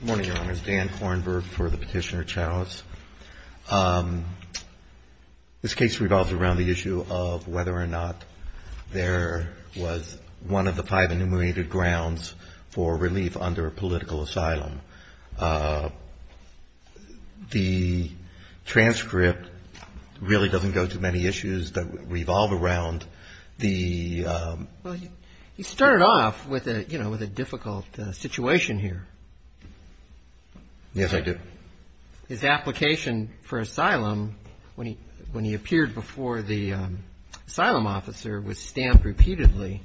Good morning, Your Honors. Dan Kornberg for the Petitioner-Chaos. This case revolves around the issue of whether or not there was one of the five enumerated grounds for relief under political asylum. The transcript really doesn't go to many issues that revolve around the... Well, you started off with a difficult situation here. Yes, I did. His application for asylum, when he appeared before the asylum officer, was stamped repeatedly.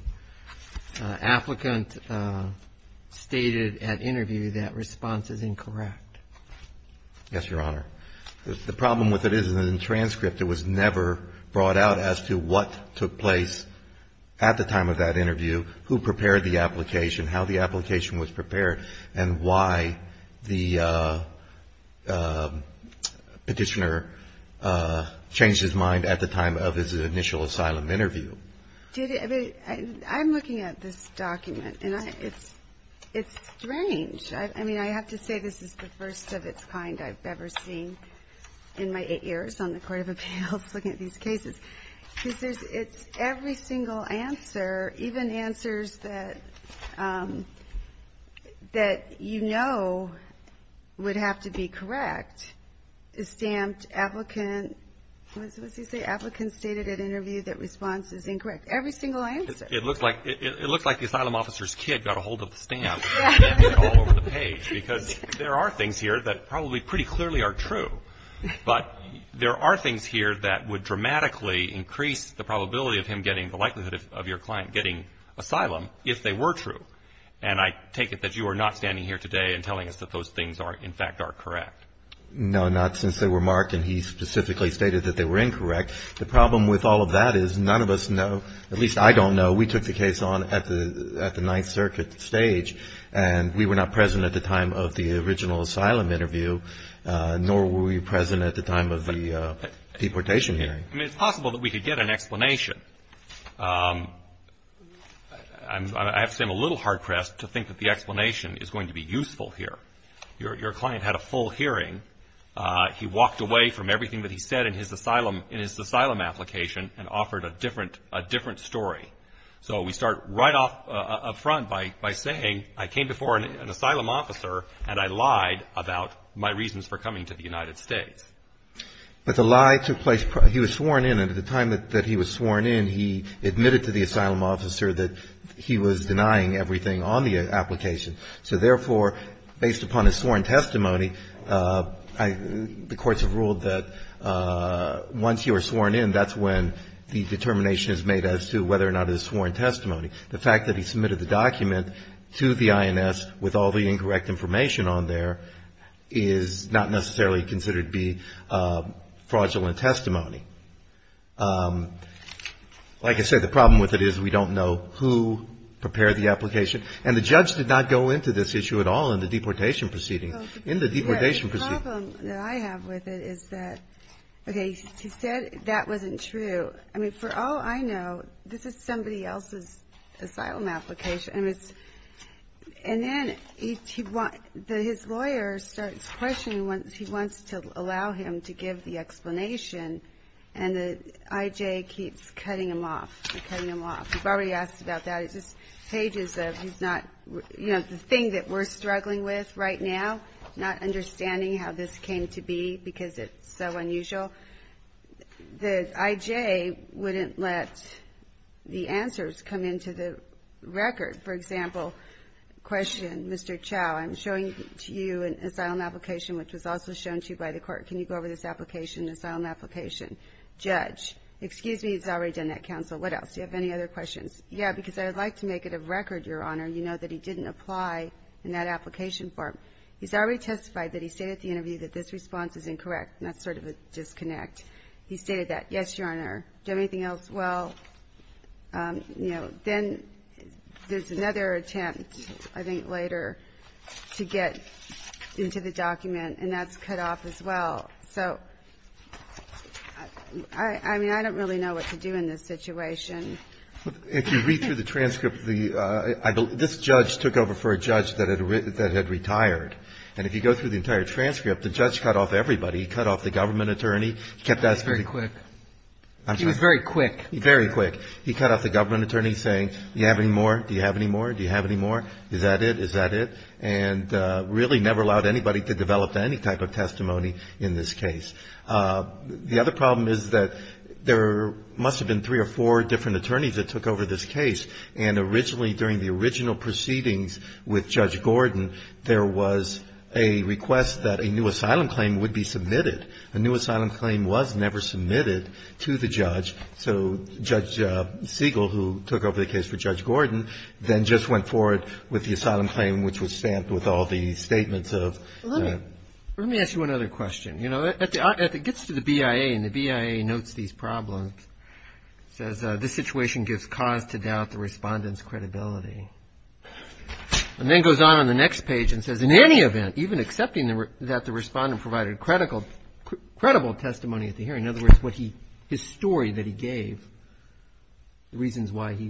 Applicant stated at interview that response is incorrect. Yes, Your Honor. The problem with it is in the transcript, it was never brought out as to what took place at the time of that interview, who prepared the application, how the application was prepared, and why the petitioner changed his mind at the time of his initial asylum interview. I'm looking at this document, and it's strange. I mean, I have to say this is the first of its kind I've ever seen in my eight years on the Court of Appeals looking at these cases. Because it's every single answer, even answers that you know would have to be correct, is stamped, applicant stated at interview that response is incorrect. Every single answer. It looks like the asylum officer's kid got a hold of the stamp and stamped it all over the page. Because there are things here that probably pretty clearly are true. But there are things here that would dramatically increase the probability of him getting, the likelihood of your client getting asylum if they were true. And I take it that you are not standing here today and telling us that those things in fact are correct. No, not since they were marked and he specifically stated that they were incorrect. The problem with all of that is none of us know, at least I don't know, we took the case on at the Ninth Circuit stage, and we were not present at the time of the original asylum interview, nor were we present at the time of the deportation hearing. I mean, it's possible that we could get an explanation. I have to say I'm a little hard-pressed to think that the explanation is going to be useful here. Your client had a full hearing. He walked away from everything that he said in his asylum application and offered a different story. So we start right up front by saying I came before an asylum officer and I lied about my reasons for coming to the United States. But the lie took place, he was sworn in, and at the time that he was sworn in, he admitted to the asylum officer that he was denying everything on the application. So therefore, based upon his sworn testimony, the courts have ruled that once you are sworn in, that's when the determination is made as to whether or not it is sworn testimony. The fact that he submitted the document to the INS with all the incorrect information on there is not necessarily considered to be fraudulent testimony. Like I said, the problem with it is we don't know who prepared the application. And the judge did not go into this issue at all in the deportation proceeding. In the deportation proceeding. The problem that I have with it is that, okay, he said that wasn't true. I mean, for all I know, this is somebody else's asylum application. And then his lawyer starts questioning, he wants to allow him to give the explanation, and the I.J. keeps cutting him off, cutting him off. You've already asked about that. It's just pages of he's not, you know, the thing that we're struggling with right now, not understanding how this came to be because it's so unusual. The I.J. wouldn't let the answers come into the record. For example, question, Mr. Chau, I'm showing to you an asylum application which was also shown to you by the court. Can you go over this application, the asylum application? Judge, excuse me, he's already done that, counsel. What else? Do you have any other questions? Yeah, because I would like to make it a record, Your Honor, you know, that he didn't apply in that application form. He's already testified that he stated at the interview that this response is incorrect, and that's sort of a disconnect. He stated that. Yes, Your Honor. Do you have anything else? Well, you know, then there's another attempt, I think, later to get into the document, and that's cut off as well. So, I mean, I don't really know what to do in this situation. If you read through the transcript, this judge took over for a judge that had retired. And if you go through the entire transcript, the judge cut off everybody. He cut off the government attorney. He kept asking. Very quick. He was very quick. Very quick. He cut off the government attorney saying, do you have any more? Do you have any more? Do you have any more? Is that it? Is that it? And really never allowed anybody to develop any type of testimony in this case. The other problem is that there must have been three or four different attorneys that took over this case. And originally, during the original proceedings with Judge Gordon, there was a request that a new asylum claim would be submitted. A new asylum claim was never submitted to the judge. So Judge Siegel, who took over the case for Judge Gordon, then just went forward with the asylum claim, which was stamped with all the statements of that. Let me ask you another question. You know, it gets to the BIA, and the BIA notes these problems. It says, this situation gives cause to doubt the respondent's credibility. And then it goes on on the next page and says, in any event, even accepting that the respondent provided credible testimony at the hearing, in other words, his story that he gave, the reasons why he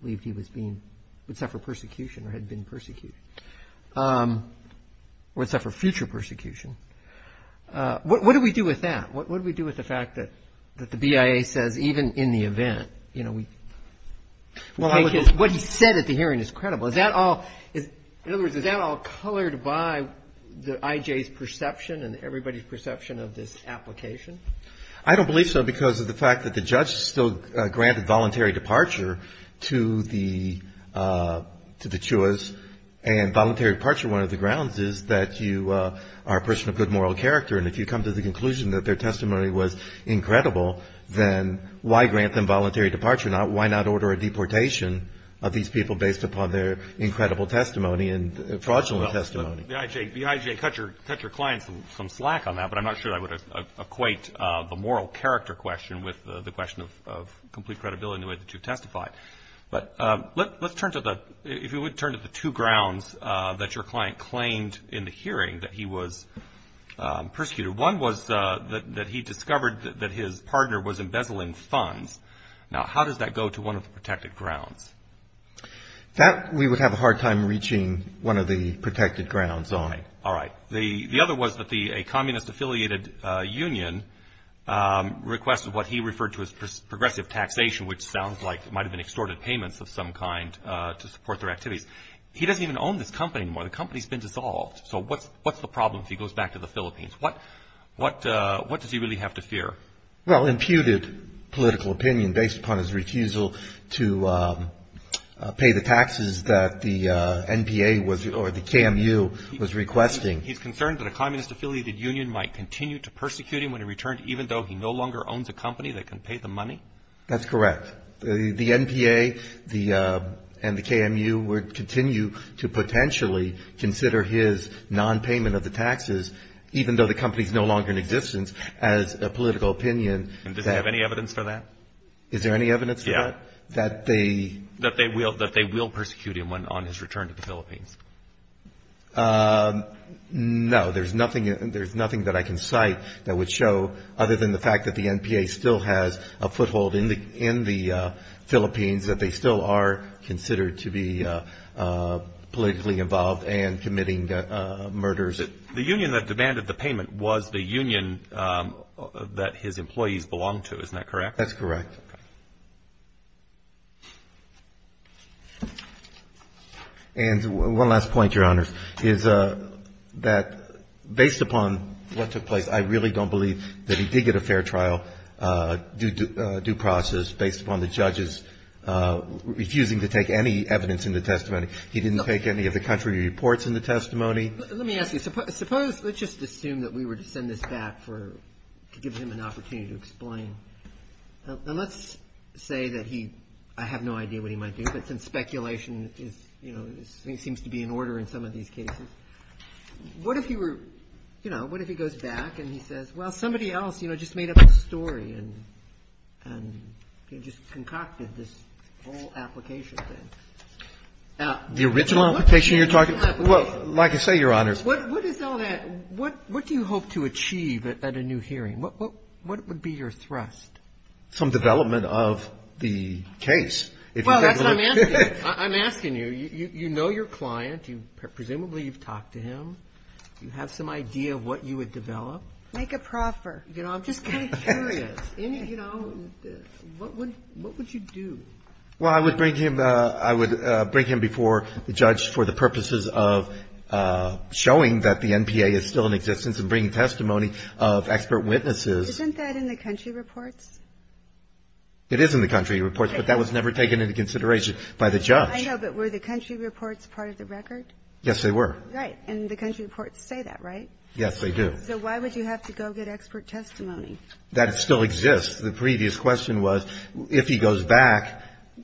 believed he would suffer persecution or had been persecuted, or would suffer future persecution, what do we do with that? What do we do with the fact that the BIA says, even in the event, you know, what he said at the hearing is credible. In other words, is that all colored by the IJ's perception and everybody's perception of this application? I don't believe so, because of the fact that the judge still granted voluntary departure to the CHUAs. And voluntary departure, one of the grounds is that you are a person of good moral character. And if you come to the conclusion that their testimony was incredible, then why grant them voluntary departure? Why not order a deportation of these people based upon their incredible testimony and fraudulent testimony? The IJ cut your client some slack on that, but I'm not sure I would equate the moral character question with the question of complete credibility in the way that you testified. But let's turn to the, if you would, turn to the two grounds that your client claimed in the hearing that he was persecuted. One was that he discovered that his partner was embezzling funds. Now, how does that go to one of the protected grounds? That we would have a hard time reaching one of the protected grounds on. All right. The other was that a communist-affiliated union requested what he referred to as progressive taxation, which sounds like it might have been extorted payments of some kind to support their activities. He doesn't even own this company anymore. The company's been dissolved. So what's the problem if he goes back to the Philippines? What does he really have to fear? Well, imputed political opinion based upon his refusal to pay the taxes that the NPA or the KMU was requesting. He's concerned that a communist-affiliated union might continue to persecute him when he returned, even though he no longer owns a company that can pay the money? That's correct. The NPA and the KMU would continue to potentially consider his nonpayment of the political opinion. Does he have any evidence for that? Is there any evidence for that? Yeah. That they... That they will persecute him on his return to the Philippines. No. There's nothing that I can cite that would show, other than the fact that the NPA still has a foothold in the Philippines, that they still are considered to be politically involved and committing murders. The union that demanded the payment was the union that his employees belonged to. Isn't that correct? That's correct. Okay. And one last point, Your Honors, is that based upon what took place, I really don't believe that he did get a fair trial due process based upon the judges refusing to take any evidence in the testimony. He didn't take any of the country reports in the testimony. Let me ask you. Suppose, let's just assume that we were to send this back to give him an opportunity to explain. Now, let's say that he, I have no idea what he might do, but since speculation is, you know, seems to be in order in some of these cases, what if he were, you know, what if he goes back and he says, well, somebody else, you know, just made up a story and just concocted this whole application thing? The original application you're talking about? Well, like I say, Your Honors. What is all that? What do you hope to achieve at a new hearing? What would be your thrust? Some development of the case. Well, that's what I'm asking you. I'm asking you. You know your client. Presumably you've talked to him. Do you have some idea of what you would develop? Make a proffer. You know, I'm just kind of curious. You know, what would you do? Well, I would bring him before the judge for the purposes of showing that the NPA is still in existence and bringing testimony of expert witnesses. Isn't that in the country reports? It is in the country reports, but that was never taken into consideration by the judge. I know, but were the country reports part of the record? Yes, they were. Right. And the country reports say that, right? Yes, they do. So why would you have to go get expert testimony? That still exists. The previous question was if he goes back,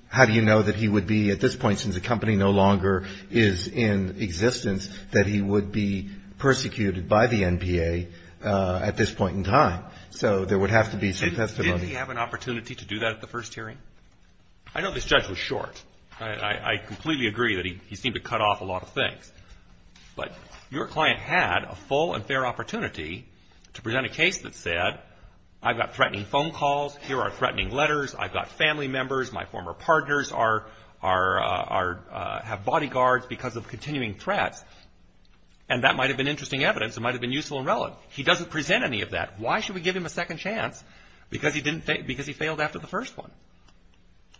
how do you know that he would be at this point, since the company no longer is in existence, that he would be persecuted by the NPA at this point in time? So there would have to be some testimony. Didn't he have an opportunity to do that at the first hearing? I know this judge was short. I completely agree that he seemed to cut off a lot of things. But your client had a full and fair opportunity to present a case that said, I've got threatening phone calls. Here are threatening letters. I've got family members. My former partners have bodyguards because of continuing threats. And that might have been interesting evidence. It might have been useful and relevant. He doesn't present any of that. Why should we give him a second chance? Because he failed after the first one.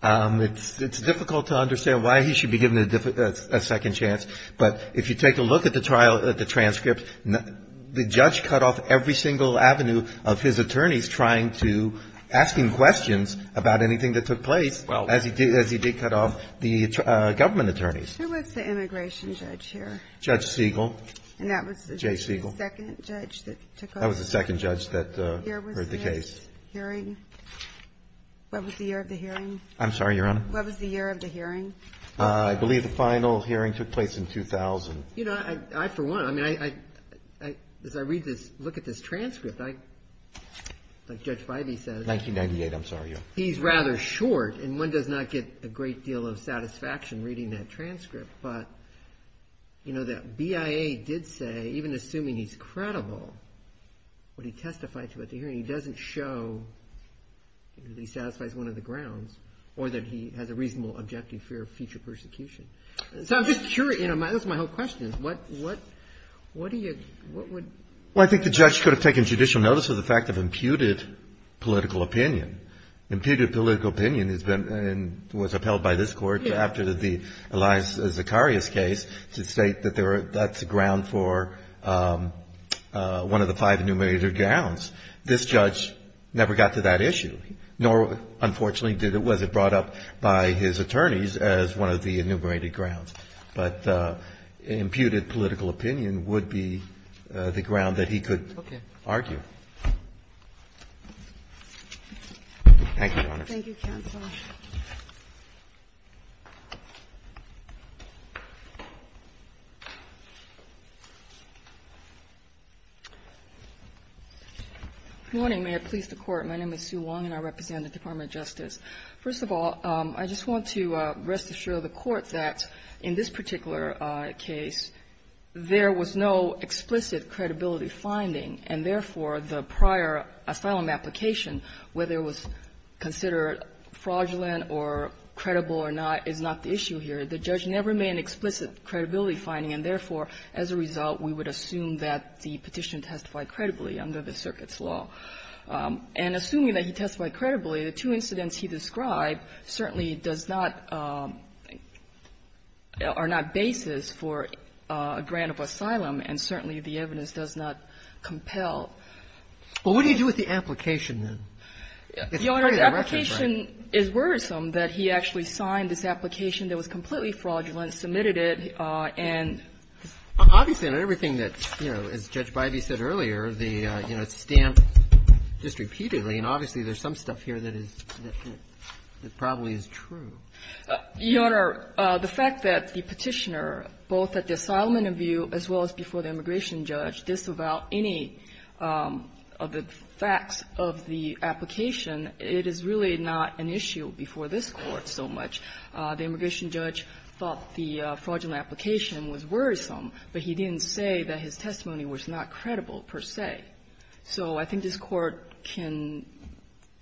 It's difficult to understand why he should be given a second chance. But if you take a look at the trial, at the transcript, the judge cut off every single avenue of his attorneys trying to ask him questions about anything that took place as he did cut off the government attorneys. Who was the immigration judge here? Judge Siegel. And that was the second judge that took over? That was the second judge that heard the case. What was the year of the hearing? I'm sorry, Your Honor? What was the year of the hearing? I believe the final hearing took place in 2000. You know, I for one, I mean, as I read this, look at this transcript, like Judge Fivey says. 1998, I'm sorry, Your Honor. He's rather short, and one does not get a great deal of satisfaction reading that transcript. But, you know, the BIA did say, even assuming he's credible, what he testified to at the hearing, he doesn't show that he satisfies one of the grounds or that he has a reasonable objective fear of future persecution. So I'm just curious. You know, that's my whole question. What do you – what would – Well, I think the judge could have taken judicial notice of the fact of imputed political opinion. Imputed political opinion has been – was upheld by this Court after the Elias Zacharias case to state that there – that's a ground for one of the five enumerated grounds. This judge never got to that issue, nor, unfortunately, was it brought up by his attorneys as one of the enumerated grounds. But imputed political opinion would be the ground that he could argue. Thank you, Your Honor. Thank you, counsel. Good morning. May it please the Court. My name is Sue Wong, and I represent the Department of Justice. First of all, I just want to rest assure the Court that in this particular case, there was no explicit credibility finding, and therefore, the prior asylum application, whether it was considered fraudulent or credible or not, is not the issue here. The judge never made an explicit credibility finding, and therefore, as a result, we would assume that the Petitioner testified credibly under the circuit's law. And assuming that he testified credibly, the two incidents he described certainly does not – are not basis for a grant of asylum, and certainly the evidence does not compel. Well, what do you do with the application, then? It's pretty direct, right? Your Honor, the application is worrisome that he actually signed this application that was completely fraudulent, submitted it, and the staff – Obviously, in everything that's, you know, as Judge Bybee said earlier, the, you know, it's stamped just repeatedly, and obviously, there's some stuff here that is – that probably is true. Your Honor, the fact that the Petitioner, both at the asylum interview as well as before the immigration judge, disavowed any of the facts of the application, it is really not an issue before this Court so much. The immigration judge thought the fraudulent application was worrisome, but he didn't say that his testimony was not credible, per se. So I think this Court can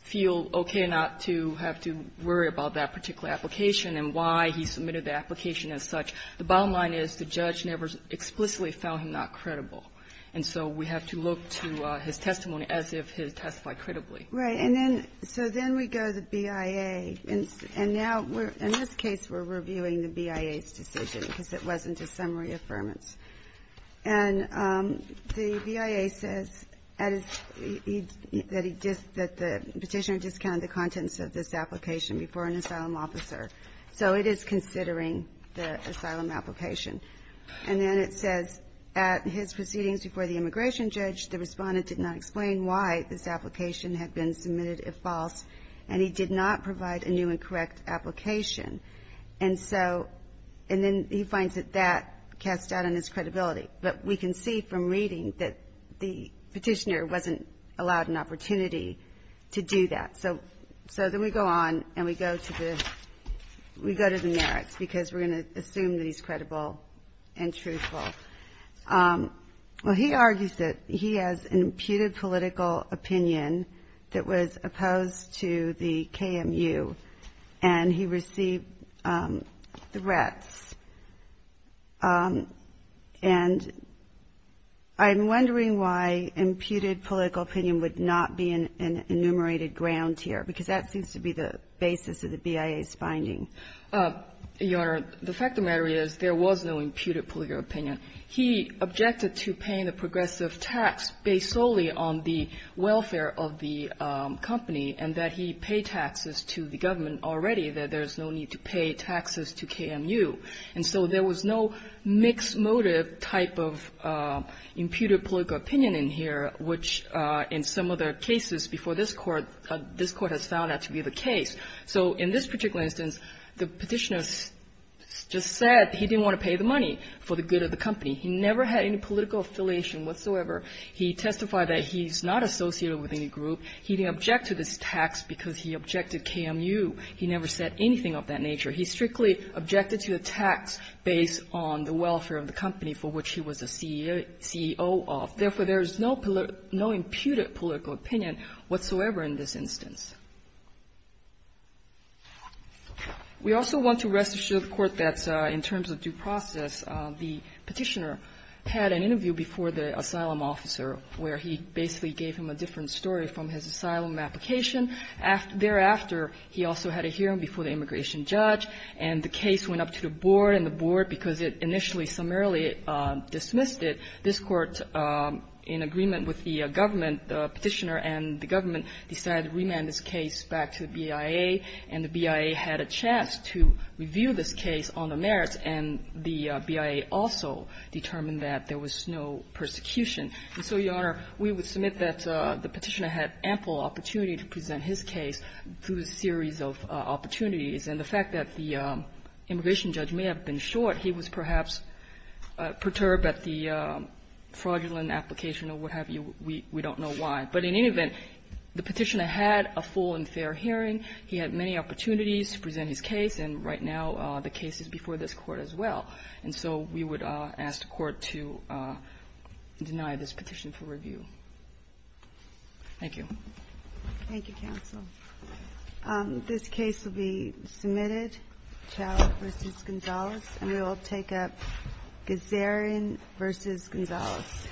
feel okay not to have to worry about that particular application and why he submitted the application as such. The bottom line is the judge never explicitly found him not credible. And so we have to look to his testimony as if he testified credibly. Right. And then – so then we go to the BIA. And now we're – in this case, we're reviewing the BIA's decision because it wasn't a summary affirmance. And the BIA says that the Petitioner discounted the contents of this application before an asylum officer. So it is considering the asylum application. And then it says, at his proceedings before the immigration judge, the Respondent did not explain why this application had been submitted, if false, and he did not provide a new and correct application. And so – and then he finds that that casts doubt on his credibility. But we can see from reading that the Petitioner wasn't allowed an opportunity to do that. So then we go on and we go to the – we go to the merits because we're going to assume that he's credible and truthful. Well, he argues that he has imputed political opinion that was opposed to the KMU and he received threats. And I'm wondering why imputed political opinion would not be an enumerated ground here, because that seems to be the basis of the BIA's finding. Your Honor, the fact of the matter is there was no imputed political opinion. He objected to paying the progressive tax based solely on the welfare of the company and that he pay taxes to the government already, that there's no need to pay taxes to KMU. And so there was no mixed motive type of imputed political opinion in here, which in some other cases before this Court, this Court has found that to be the case. So in this particular instance, the Petitioner just said he didn't want to pay the money for the good of the company. He never had any political affiliation whatsoever. He testified that he's not associated with any group. He didn't object to this tax because he objected KMU. He never said anything of that nature. He strictly objected to the tax based on the welfare of the company for which he was a CEO of. Therefore, there is no imputed political opinion whatsoever in this instance. We also want to rest assure the Court that in terms of due process, the Petitioner had an interview before the asylum officer where he basically gave him a different story from his asylum application. Thereafter, he also had a hearing before the immigration judge, and the case went up to the board, and the board, because it initially summarily dismissed it, this Court, in agreement with the government, the Petitioner and the government, decided to remand this case back to the BIA, and the BIA had a chance to review this case on the merits, and the BIA also determined that there was no persecution. And so, Your Honor, we would submit that the Petitioner had ample opportunity to present his case through a series of opportunities. And the fact that the immigration judge may have been short, he was perhaps perturbed at the fraudulent application or what have you. We don't know why. But in any event, the Petitioner had a full and fair hearing. He had many opportunities to present his case, and right now the case is before this Court as well. And so we would ask the Court to deny this petition for review. Thank you. Thank you, counsel. This case will be submitted. Chavez v. Gonzalez. And we will take up Gazarian v. Gonzalez. Thank you.